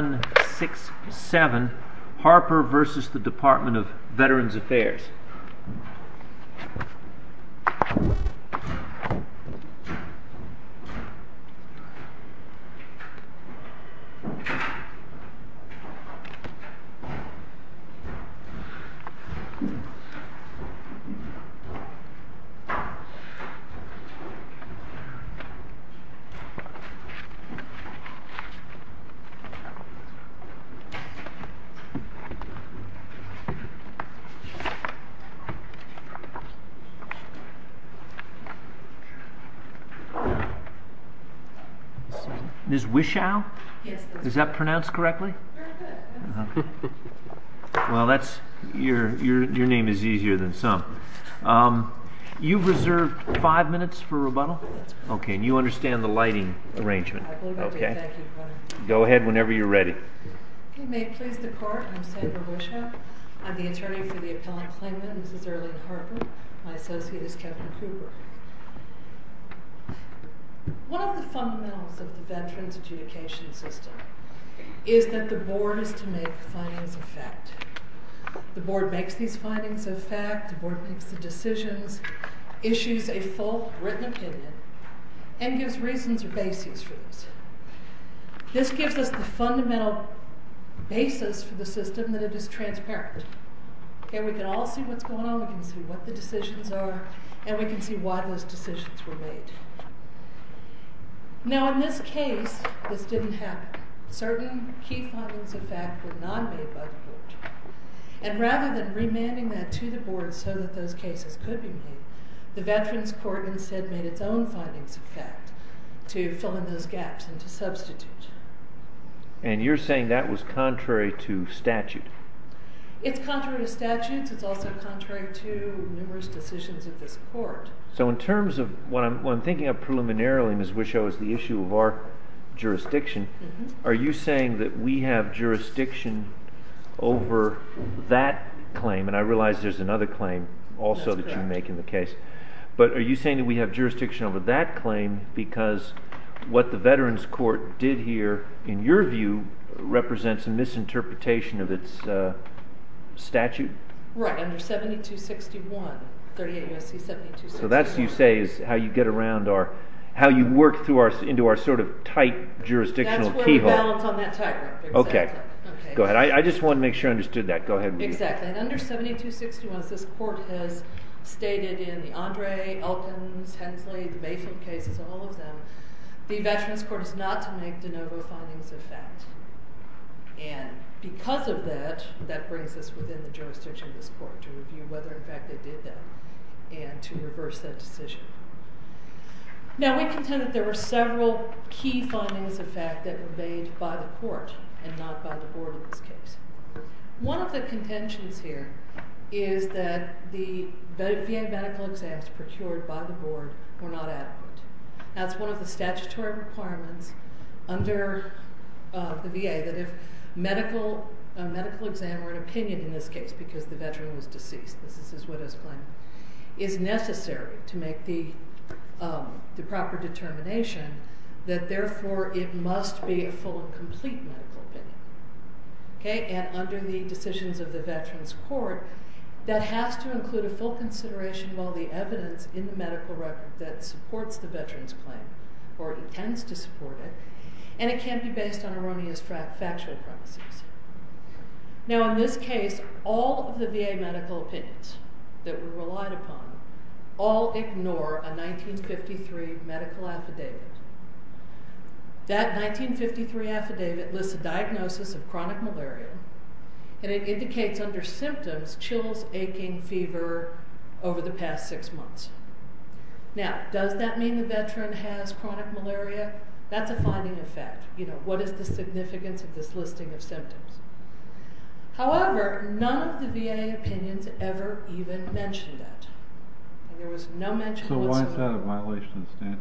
1-6-7, Harper versus the Department of Veterans Affairs. 1-6-7, Harper versus the Department of Veterans Affairs. May it please the Court, I'm Sandra Wishart. I'm the attorney for the appellant claimant, this is Earlene Harper. My associate is Kevin Cooper. One of the fundamentals of the veterans' adjudication system is that the Board has to make findings of fact. The Board makes these findings of fact. The Board makes the decisions, issues a full, written opinion, and gives reasons or bases for this. This gives us the fundamental basis for the system that it is transparent. We can all see what's going on, we can see what the decisions are, and we can see why those decisions were made. Now in this case, this didn't happen. Certain key findings of fact were not made by the Board. And rather than remanding that to the Board so that those cases could be made, the Veterans Court instead made its own findings of fact to fill in those gaps and to substitute. And you're saying that was contrary to statute? It's contrary to statutes, it's also contrary to numerous decisions of this Court. So in terms of what I'm thinking of preliminarily, Ms. Wischow, is the issue of our jurisdiction. Are you saying that we have jurisdiction over that claim? And I realize there's another claim also that you make in the case. But are you saying that we have jurisdiction over that claim because what the Veterans Court did here, in your view, represents a misinterpretation of its statute? Right, under 7261, 38 U.S.C. 7261. So that, you say, is how you get around our, how you work through our, into our sort of tight jurisdictional keyhole. That's where we balance on that tie graph. Okay. Go ahead. I just wanted to make sure I understood that. Go ahead. Exactly. And under 7261, as this Court has stated in the Andre, Elkins, Hensley, the Mayfield cases, all of them, the Veterans Court is not to make de novo findings of fact. And because of that, that brings us within the jurisdiction of this Court to review whether in fact they did that and to reverse that decision. Now, we contend that there were several key findings of fact that were made by the Court and not by the Board in this case. One of the contentions here is that the VA medical exams procured by the Board were not adequate. That's one of the statutory requirements under the VA, that if medical, a medical exam or an opinion in this case, because the Veteran was deceased, this is his widow's claim, is necessary to make the proper determination that therefore it must be a full and complete medical opinion. Okay. And under the decisions of the Veterans Court, that has to include a full consideration of all the evidence in the medical record that supports the Veteran's claim or intends to support it, and it can't be based on erroneous factual premises. Now, in this case, all of the VA medical opinions that we relied upon all ignore a 1953 medical affidavit. That 1953 affidavit lists a diagnosis of chronic malaria, and it indicates under symptoms chills, aching, fever over the past six months. Now, does that mean the Veteran has chronic malaria? That's a finding of fact. You know, what is the significance of this listing of symptoms? However, none of the VA opinions ever even mentioned that, and there was no mention whatsoever. Is that a violation of the statute?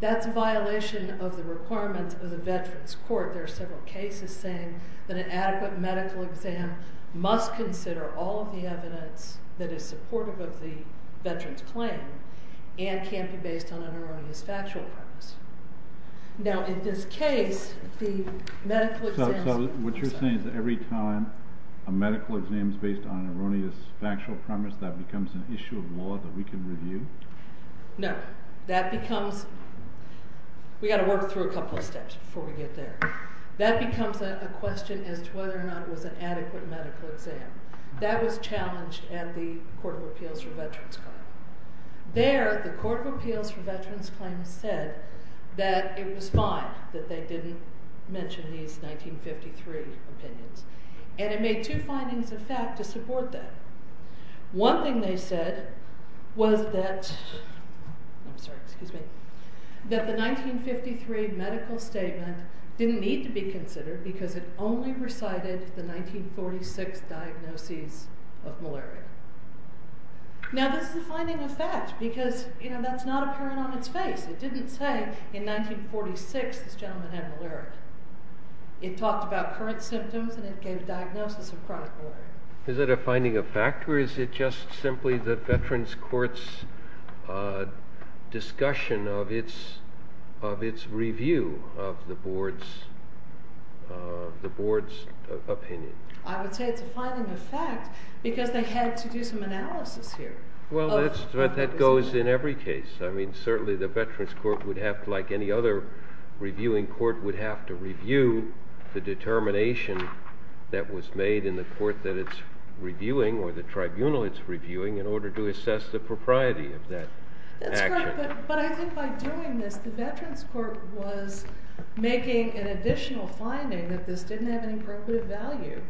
That's a violation of the requirements of the Veterans Court. There are several cases saying that an adequate medical exam must consider all of the evidence that is supportive of the Veteran's claim and can't be based on an erroneous factual premise. Now, in this case, the medical exam... So what you're saying is that every time a medical exam is based on an erroneous factual premise, that becomes an issue of law that we can review? No. That becomes... we've got to work through a couple of steps before we get there. That becomes a question as to whether or not it was an adequate medical exam. That was challenged at the Court of Appeals for Veterans Claim. There, the Court of Appeals for Veterans Claim said that it was fine that they didn't mention these 1953 opinions, and it made two findings of fact to support that. One thing they said was that... I'm sorry, excuse me... that the 1953 medical statement didn't need to be considered because it only recited the 1946 diagnoses of malaria. Now, this is a finding of fact because that's not apparent on its face. It didn't say, in 1946, this gentleman had malaria. It talked about current symptoms and it gave a diagnosis of chronic malaria. Is it a finding of fact, or is it just simply the Veterans Court's discussion of its review of the Board's opinion? I would say it's a finding of fact because they had to do some analysis here. Well, that goes in every case. I mean, certainly the Veterans Court would have, like any other reviewing court, would have to review the determination that was made in the court that it's reviewing, or the tribunal it's reviewing, in order to assess the propriety of that action. That's correct, but I think by doing this, the Veterans Court was making an additional finding that this didn't have an appropriate value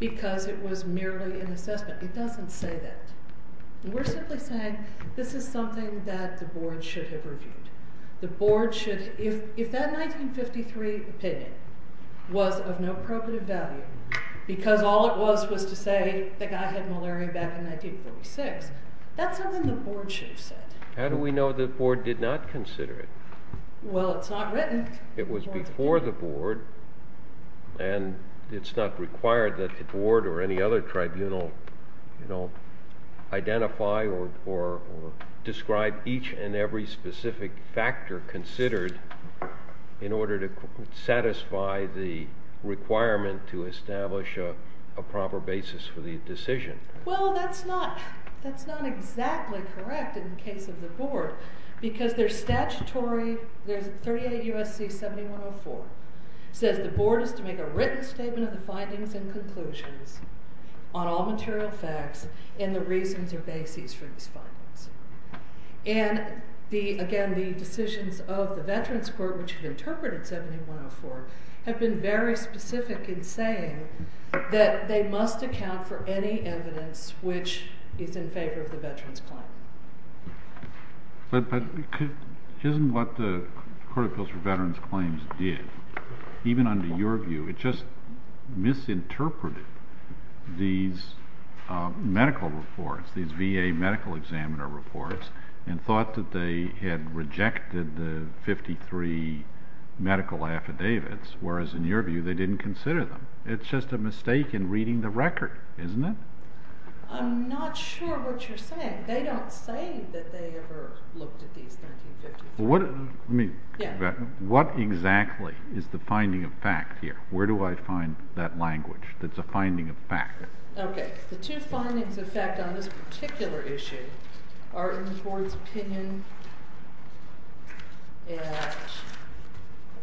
because it was merely an assessment. It doesn't say that. We're simply saying this is something that the Board should have reviewed. The Board should... if that 1953 opinion was of no appropriate value because all it was was to say the guy had malaria back in 1946, that's something the Board should have said. How do we know the Board did not consider it? Well, it's not written. It was before the Board, and it's not required that the Board or any other tribunal identify or describe each and every specific factor considered in order to satisfy the requirement to establish a proper basis for the decision. Well, that's not exactly correct in the case of the Board because their statutory... 38 U.S.C. 7104 says the Board is to make a written statement of the findings and conclusions on all material facts and the reasons or bases for these findings. And, again, the decisions of the Veterans Court, which had interpreted 7104, have been very specific in saying that they must account for any evidence which is in favor of the veterans' claim. But isn't what the Court of Appeals for Veterans Claims did, even under your view, it just misinterpreted these medical reports, these VA medical examiner reports, and thought that they had rejected the 53 medical affidavits, whereas in your view they didn't consider them. It's just a mistake in reading the record, isn't it? I'm not sure what you're saying. They don't say that they ever looked at these 1353... What exactly is the finding of fact here? Where do I find that language that's a finding of fact? Okay. The two findings of fact on this particular issue are in the Court's opinion at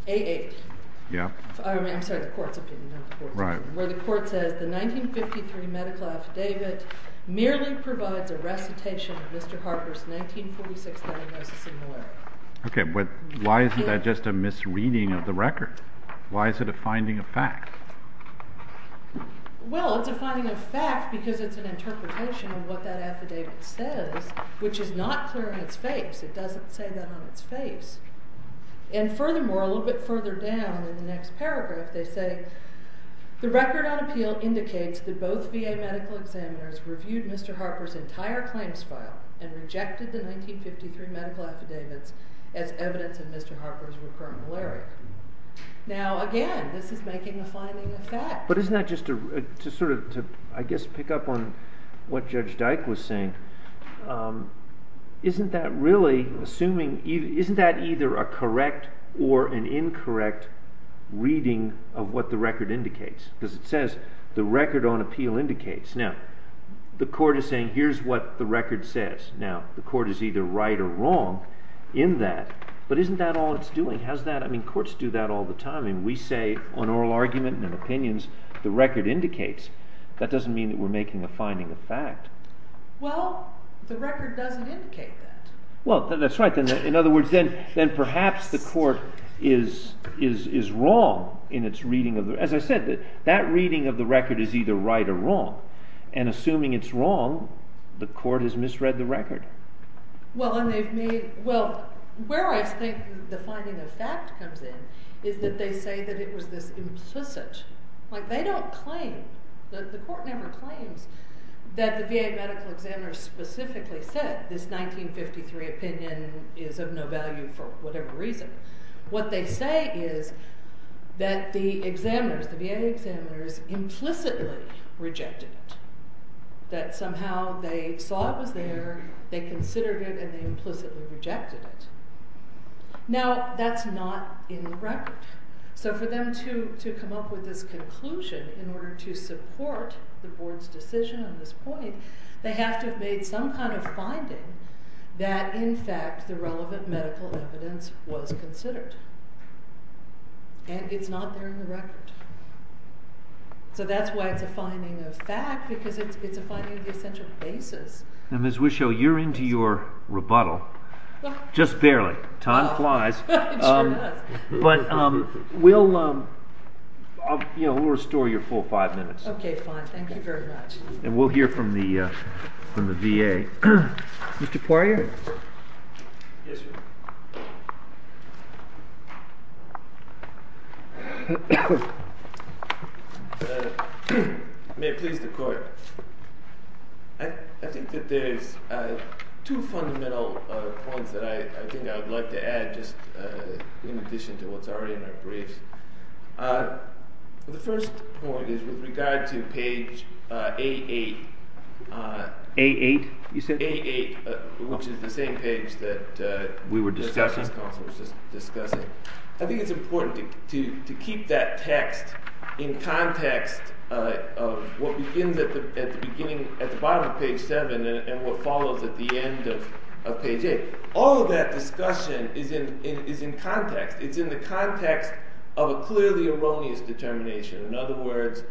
880. I'm sorry, the Court's opinion, not the Court's opinion. Where the Court says the 1953 medical affidavit merely provides a recitation of Mr. Harper's 1946 diagnosis and lawyer. Okay, but why isn't that just a misreading of the record? Why is it a finding of fact? Well, it's a finding of fact because it's an interpretation of what that affidavit says, which is not clear on its face. It doesn't say that on its face. And furthermore, a little bit further down in the next paragraph, they say the record on appeal indicates that both VA medical examiners reviewed Mr. Harper's entire claims file and rejected the 1953 medical affidavits as evidence of Mr. Harper's recurrent malaria. Now, again, this is making a finding of fact. But isn't that just to sort of, I guess, pick up on what Judge Dyke was saying. Isn't that either a correct or an incorrect reading of what the record indicates? Because it says the record on appeal indicates. Now, the Court is saying here's what the record says. Now, the Court is either right or wrong in that. But isn't that all it's doing? I mean, courts do that all the time. And we say on oral argument and in opinions, the record indicates. That doesn't mean that we're making a finding of fact. Well, the record doesn't indicate that. Well, that's right. In other words, then perhaps the Court is wrong in its reading. As I said, that reading of the record is either right or wrong. And assuming it's wrong, the Court has misread the record. Well, where I think the finding of fact comes in is that they say that it was this implicit. Like, they don't claim. The Court never claims that the VA medical examiners specifically said this 1953 opinion is of no value for whatever reason. What they say is that the VA examiners implicitly rejected it. That somehow they saw it was there, they considered it, and they implicitly rejected it. Now, that's not in the record. So for them to come up with this conclusion in order to support the Board's decision on this point, they have to have made some kind of finding that in fact the relevant medical evidence was considered. And it's not there in the record. So that's why it's a finding of fact, because it's a finding of the essential basis. Now, Ms. Wisho, you're into your rebuttal. Just barely. Time flies. But we'll restore your full five minutes. Okay, fine. Thank you very much. And we'll hear from the VA. Mr. Poirier? Yes, sir. May it please the Court. I think that there's two fundamental points that I think I would like to add just in addition to what's already in our briefs. The first point is with regard to page A-8. A-8, you said? A-8, which is the same page that the Justice Council was discussing. I think it's important to keep that text in context of what begins at the bottom of page 7 and what follows at the end of page 8. All of that discussion is in context. It's in the context of a clearly erroneous determination. In other words,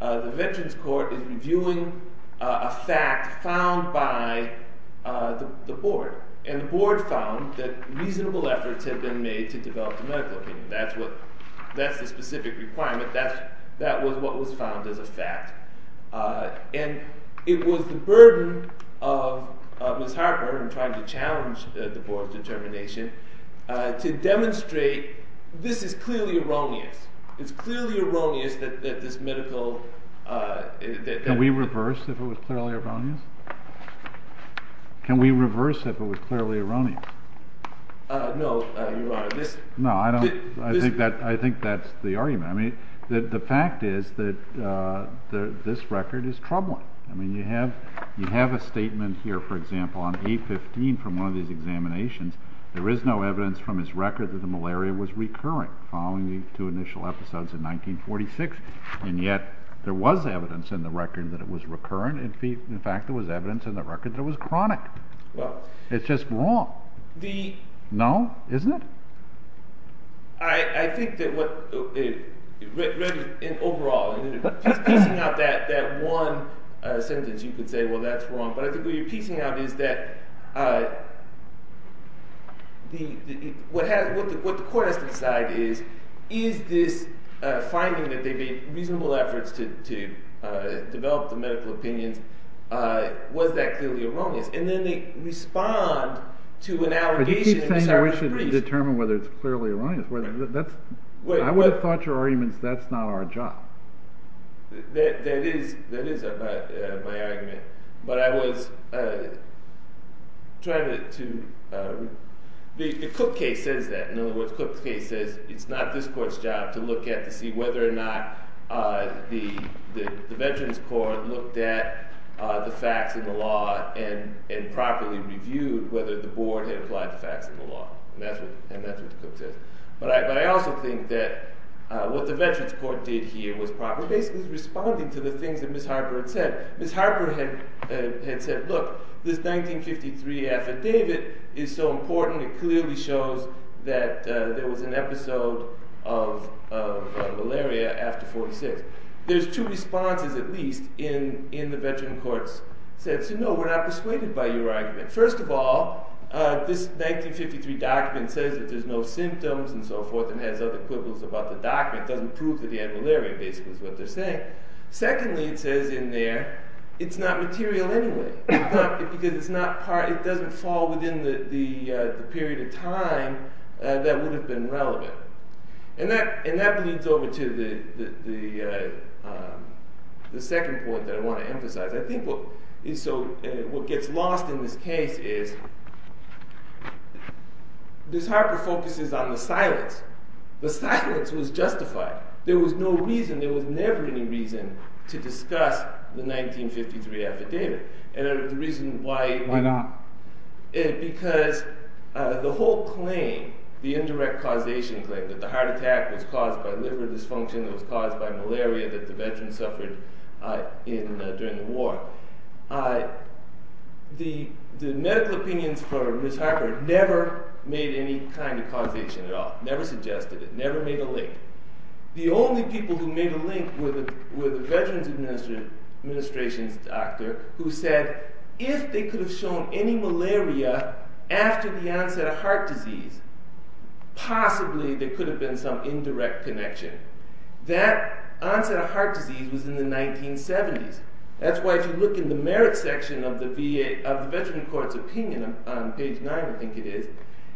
the Veterans Court is reviewing a fact found by the Board. And the Board found that reasonable efforts had been made to develop the medical opinion. That's the specific requirement. That was what was found as a fact. And it was the burden of Ms. Harper in trying to challenge the Board's determination to demonstrate this is clearly erroneous. It's clearly erroneous that this medical Can we reverse if it was clearly erroneous? Can we reverse if it was clearly erroneous? No, Your Honor. No, I think that's the argument. The fact is that this record is troubling. You have a statement here, for example, on A-15 from one of these examinations. There is no evidence from his record that the malaria was recurring following the two initial episodes in 1946. And yet there was evidence in the record that it was recurrent. In fact, there was evidence in the record that it was chronic. It's just wrong. No, isn't it? I think that what it read in overall, and just piecing out that one sentence, you could say, well, that's wrong. But I think what you're piecing out is that what the court has to decide is, is this finding that there have been reasonable efforts to develop the medical opinions, was that clearly erroneous? And then they respond to an allegation. Are you saying that we should determine whether it's clearly erroneous? I would have thought your argument is that's not our job. That is my argument. But I was trying to – the Cook case says that. In other words, the Cook case says it's not this court's job to look at, to see whether or not the Veterans Court looked at the facts in the law and properly reviewed whether the board had applied the facts in the law. And that's what the Cook says. But I also think that what the Veterans Court did here was basically responding to the things that Ms. Harper had said. Ms. Harper had said, look, this 1953 affidavit is so important. It clearly shows that there was an episode of malaria after 1946. There's two responses, at least, in the Veterans Court's sense. No, we're not persuaded by your argument. First of all, this 1953 document says that there's no symptoms and so forth and has other quibbles about the document. It doesn't prove that you had malaria, basically, is what they're saying. Secondly, it says in there, it's not material anyway because it doesn't fall within the period of time that would have been relevant. And that leads over to the second point that I want to emphasize. I think what gets lost in this case is Ms. Harper focuses on the silence. The silence was justified. There was no reason, there was never any reason to discuss the 1953 affidavit. Why not? Because the whole claim, the indirect causation claim, that the heart attack was caused by liver dysfunction, that it was caused by malaria that the veterans suffered during the war, the medical opinions for Ms. Harper never made any kind of causation at all, never suggested it, never made a link. The only people who made a link were the Veterans Administration's doctor who said, if they could have shown any malaria after the onset of heart disease, possibly there could have been some indirect connection. That onset of heart disease was in the 1970s. That's why if you look in the merit section of the veteran court's opinion, on page 9 I think it is,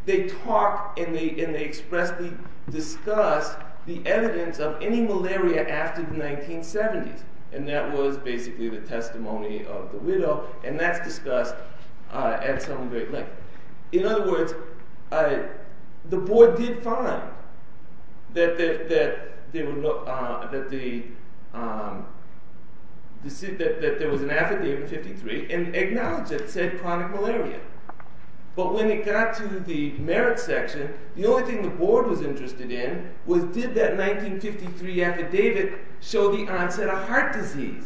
they talk and they expressly discuss the evidence of any malaria after the 1970s. And that was basically the testimony of the widow, and that's discussed at some great length. In other words, the board did find that there was an affidavit in 1953 and acknowledged it, said chronic malaria. But when it got to the merit section, the only thing the board was interested in was, did that 1953 affidavit show the onset of heart disease?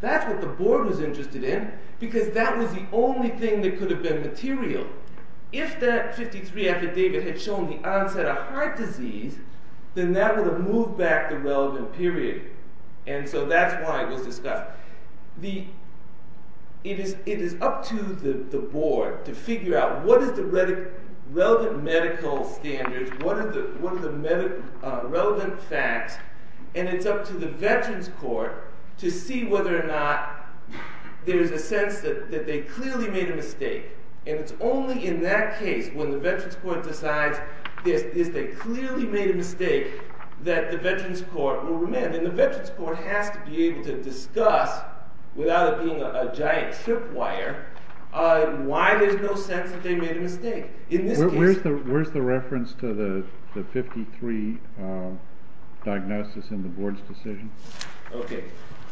That's what the board was interested in, because that was the only thing that could have been material. If that 1953 affidavit had shown the onset of heart disease, then that would have moved back the relevant period. And so that's why it was discussed. But it is up to the board to figure out what is the relevant medical standards, what are the relevant facts, and it's up to the veterans court to see whether or not there's a sense that they clearly made a mistake. And it's only in that case, when the veterans court decides they clearly made a mistake, that the veterans court will remand. And the veterans court has to be able to discuss, without it being a giant tripwire, why there's no sense that they made a mistake. Where's the reference to the 1953 diagnosis in the board's decision? Okay.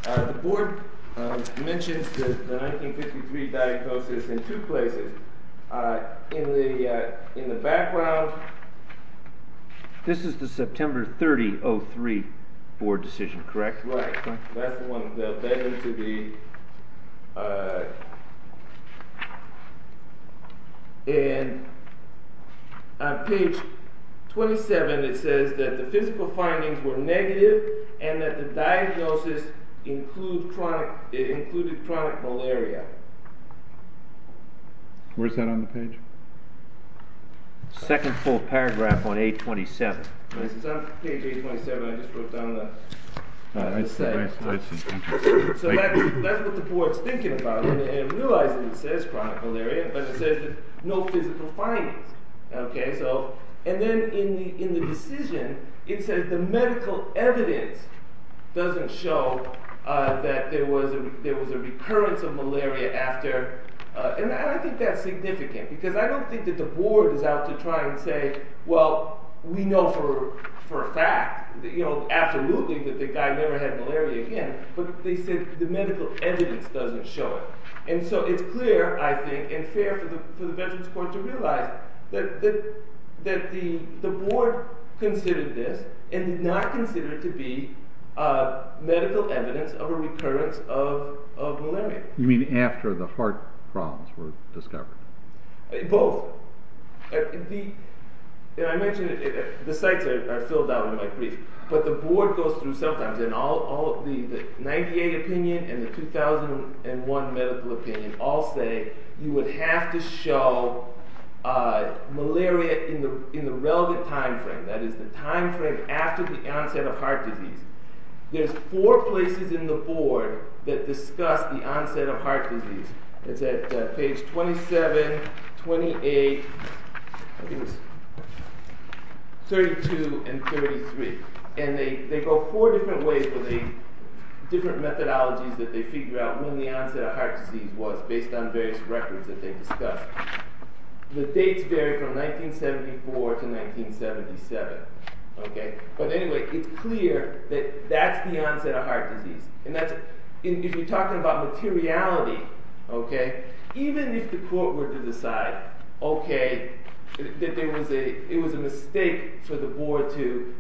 The board mentions the 1953 diagnosis in two places. In the background... This is the September 30, 2003 board decision, correct? Right. That's the one the veterans should be... And on page 27, it says that the physical findings were negative, and that the diagnosis included chronic malaria. Where's that on the page? Second full paragraph on page 27. It's on page 27. I just broke down the... I see. I see. So that's what the board's thinking about, and realizing it says chronic malaria, but it says no physical findings. And then in the decision, it says the medical evidence doesn't show that there was a recurrence of malaria after... And I think that's significant, because I don't think that the board is out to try and say, well, we know for a fact, absolutely, that the guy never had malaria again, but they said the medical evidence doesn't show it. And so it's clear, I think, and fair for the veterans court to realize that the board considered this and did not consider it to be medical evidence of a recurrence of malaria. You mean after the heart problems were discovered? Both. I mentioned the sites are filled out in my brief, but the board goes through sometimes, and the 98 opinion and the 2001 medical opinion all say you would have to show malaria in the relevant time frame, that is, the time frame after the onset of heart disease. There's four places in the board that discuss the onset of heart disease. It's at page 27, 28, 32, and 33. And they go four different ways, different methodologies that they figure out when the onset of heart disease was, based on various records that they discussed. The dates vary from 1974 to 1977. But anyway, it's clear that that's the onset of heart disease. If you're talking about materiality, even if the court were to decide that it was a mistake for the board to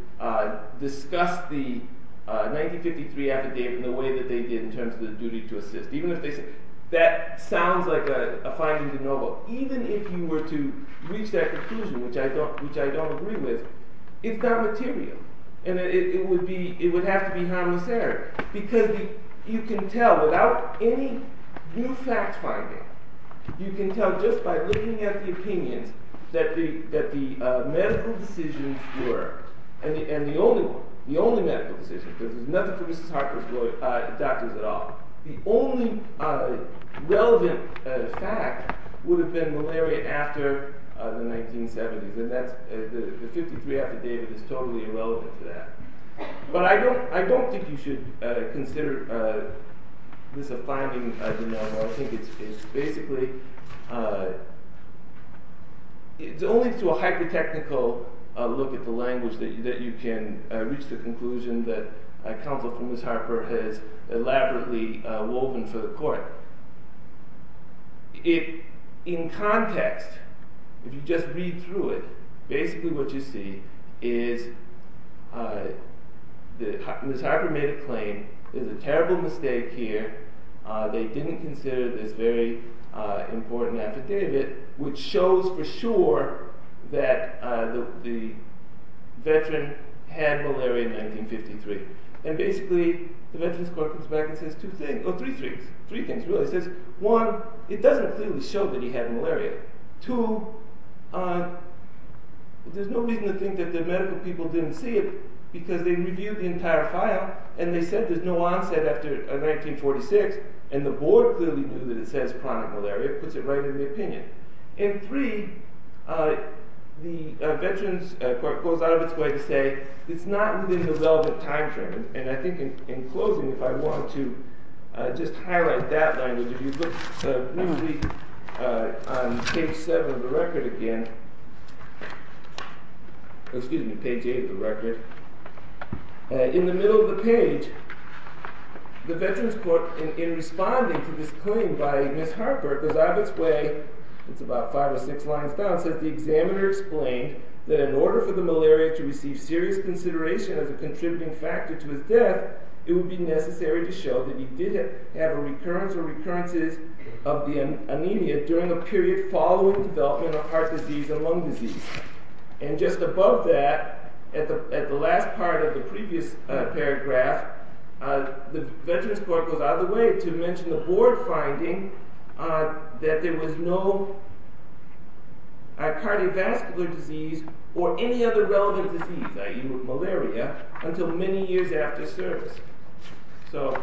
discuss the 1953 affidavit in the way that they did in terms of the duty to assist, that sounds like a finding de novo. Even if you were to reach that conclusion, which I don't agree with, it's not material. And it would have to be harmless error. Because you can tell without any new facts finding, you can tell just by looking at the opinions, that the medical decisions were, and the only medical decision, because there's nothing for Mrs. Harper's doctors at all, the only relevant fact would have been malaria after the 1970s. And the 1953 affidavit is totally irrelevant to that. But I don't think you should consider this a finding de novo. I think it's basically, it's only through a hyper-technical look at the language that you can reach the conclusion that counsel for Mrs. Harper has elaborately woven for the court. In context, if you just read through it, basically what you see is Mrs. Harper made a claim, there's a terrible mistake here, they didn't consider this very important affidavit, which shows for sure that the veteran had malaria in 1953. And basically, the Veterans Court comes back and says two things, or three things really. It says, one, it doesn't clearly show that he had malaria. Two, there's no reason to think that the medical people didn't see it, because they reviewed the entire file, and they said there's no onset after 1946, and the board clearly knew that it says chronic malaria, it puts it right in the opinion. And three, the Veterans Court goes out of its way to say it's not within the relevant time frame. And I think in closing, if I want to just highlight that line, if you look briefly on page seven of the record again, excuse me, page eight of the record, in the middle of the page, the Veterans Court, in responding to this claim by Mrs. Harper, goes out of its way, it's about five or six lines down, says the examiner explained that in order for the malaria to receive serious consideration as a contributing factor to his death, it would be necessary to show that he did have a recurrence or recurrences of the anemia during a period following the development of heart disease and lung disease. And just above that, at the last part of the previous paragraph, the Veterans Court goes out of the way to mention the board finding that there was no cardiovascular disease or any other relevant disease, i.e. malaria, until many years after service. So,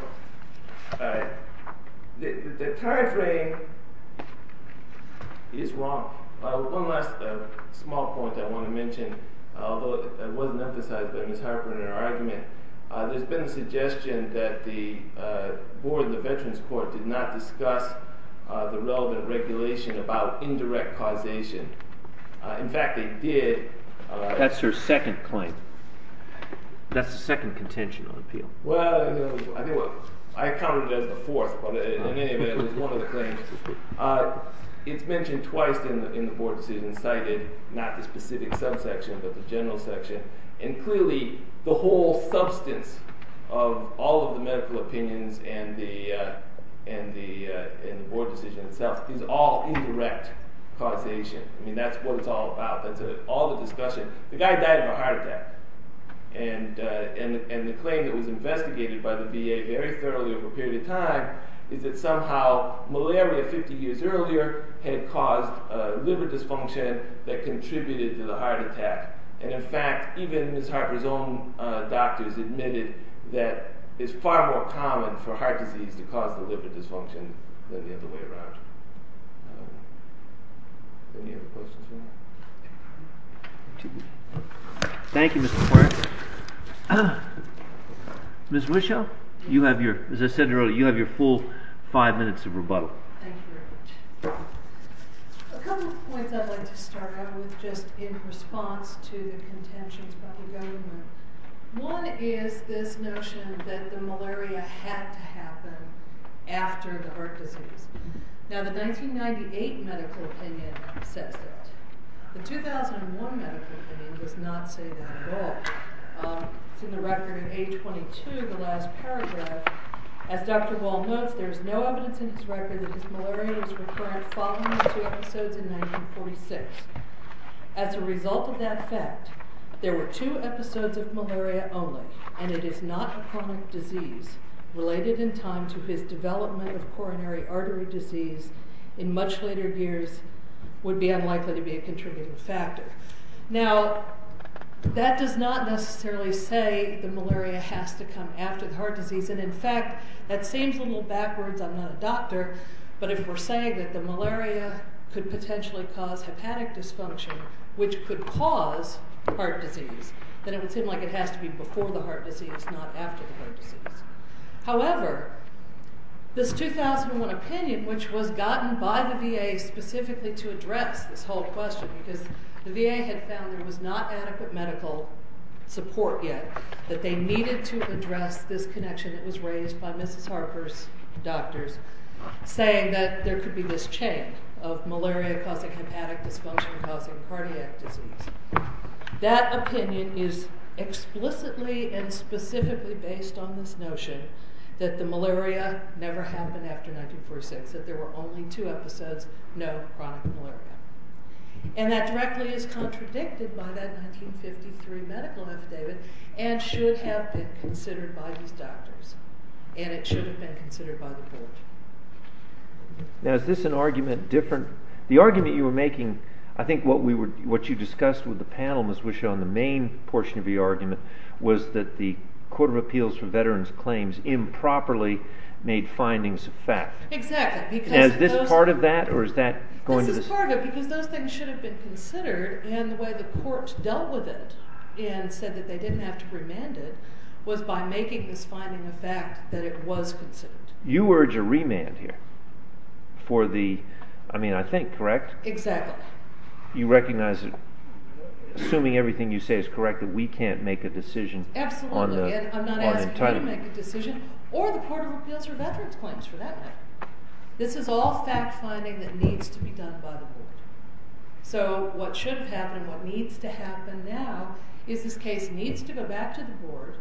the time frame is wrong. One last small point I want to mention, although it wasn't emphasized by Mrs. Harper in her argument, there's been a suggestion that the board in the Veterans Court did not discuss the relevant regulation about indirect causation. In fact, they did. That's her second claim. That's the second contention on appeal. Well, I counted it as the fourth, but in any event, it was one of the claims. It's mentioned twice in the board decision, cited not the specific subsection, but the general section. And clearly, the whole substance of all of the medical opinions and the board decision itself is all indirect causation. I mean, that's what it's all about. That's all the discussion. The guy died of a heart attack. And the claim that was investigated by the VA very thoroughly over a period of time is that somehow malaria 50 years earlier had caused liver dysfunction that contributed to the heart attack. And in fact, even Mrs. Harper's own doctors admitted that it's far more common for heart disease to cause the liver dysfunction than the other way around. Any other questions? Thank you, Mr. Clark. Ms. Wischow, as I said earlier, you have your full five minutes of rebuttal. Thank you. A couple of points I'd like to start out with just in response to the contentions by the government. One is this notion that the malaria had to happen after the heart disease. Now, the 1998 medical opinion says that. The 2001 medical opinion does not say that at all. It's in the record of A22, the last paragraph. As Dr. Wall notes, there's no evidence in his record that his malaria was recurrent following the two episodes in 1946. As a result of that fact, there were two episodes of malaria only, and it is not a chronic disease related in time to his development of coronary artery disease in much later years would be unlikely to be a contributing factor. Now, that does not necessarily say that malaria has to come after the heart disease. And in fact, that seems a little backwards. I'm not a doctor, but if we're saying that the malaria could potentially cause hepatic dysfunction, which could cause heart disease, then it would seem like it has to be before the heart disease, not after the heart disease. However, this 2001 opinion, which was gotten by the VA specifically to address this whole question because the VA had found there was not adequate medical support yet, that they needed to address this connection that was raised by Mrs. Harper's doctors, saying that there could be this chain of malaria causing hepatic dysfunction causing cardiac disease. That opinion is explicitly and specifically based on this notion that the malaria never happened after 1946, that there were only two episodes, no chronic malaria. And that directly is contradicted by that 1953 medical affidavit and should have been considered by these doctors, and it should have been considered by the court. Now, is this an argument different? The argument you were making, I think what you discussed with the panel, Ms. Wishon, the main portion of your argument was that the Court of Appeals for Veterans Claims improperly made findings of fact. Exactly. Is this part of that, or is that going to... This is part of it because those things should have been considered, and the way the court dealt with it and said that they didn't have to remand it was by making this finding a fact that it was considered. You urge a remand here for the, I mean, I think, correct? Exactly. You recognize that, assuming everything you say is correct, that we can't make a decision on the entitlement. Absolutely, and I'm not asking you to make a decision, or the Court of Appeals for Veterans Claims for that matter. This is all fact finding that needs to be done by the board. So what should have happened and what needs to happen now is this case needs to go back to the board,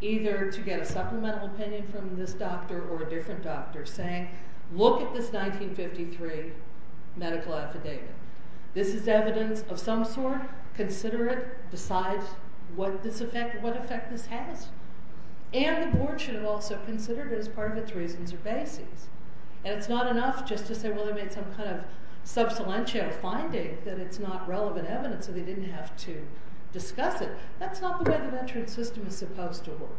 either to get a supplemental opinion from this doctor or a different doctor, saying, look at this 1953 medical affidavit. This is evidence of some sort. Consider it. Decide what effect this has. And the board should have also considered it as part of its reasons or bases. And it's not enough just to say, well, they made some kind of sub salientia finding that it's not relevant evidence, so they didn't have to discuss it. That's not the way the veteran system is supposed to work.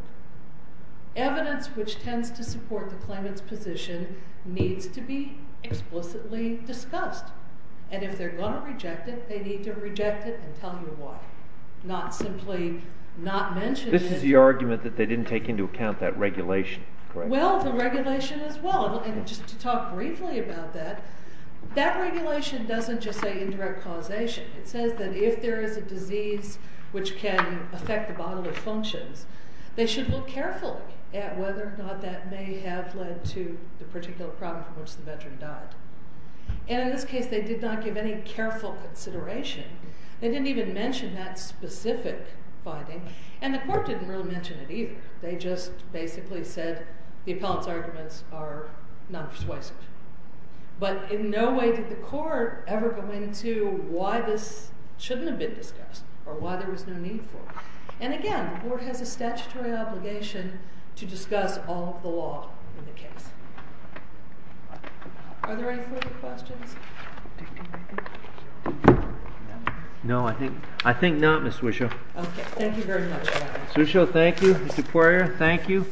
Evidence which tends to support the claimant's position needs to be explicitly discussed. And if they're going to reject it, they need to reject it and tell you why, not simply not mention it. This is the argument that they didn't take into account that regulation, correct? Well, the regulation as well. And just to talk briefly about that, that regulation doesn't just say indirect causation. It says that if there is a disease which can affect the bodily functions, they should look carefully at whether or not that may have led to the particular problem from which the veteran died. And in this case, they did not give any careful consideration. They didn't even mention that specific finding. And the court didn't really mention it either. They just basically said the appellant's arguments are not persuasive. But in no way did the court ever go into why this shouldn't have been discussed or why there was no need for it. And again, the board has a statutory obligation to discuss all of the law in the case. Are there any further questions? No, I think not, Ms. Swishow. Okay, thank you very much. Ms. Swishow, thank you. Mr. Poirier, thank you.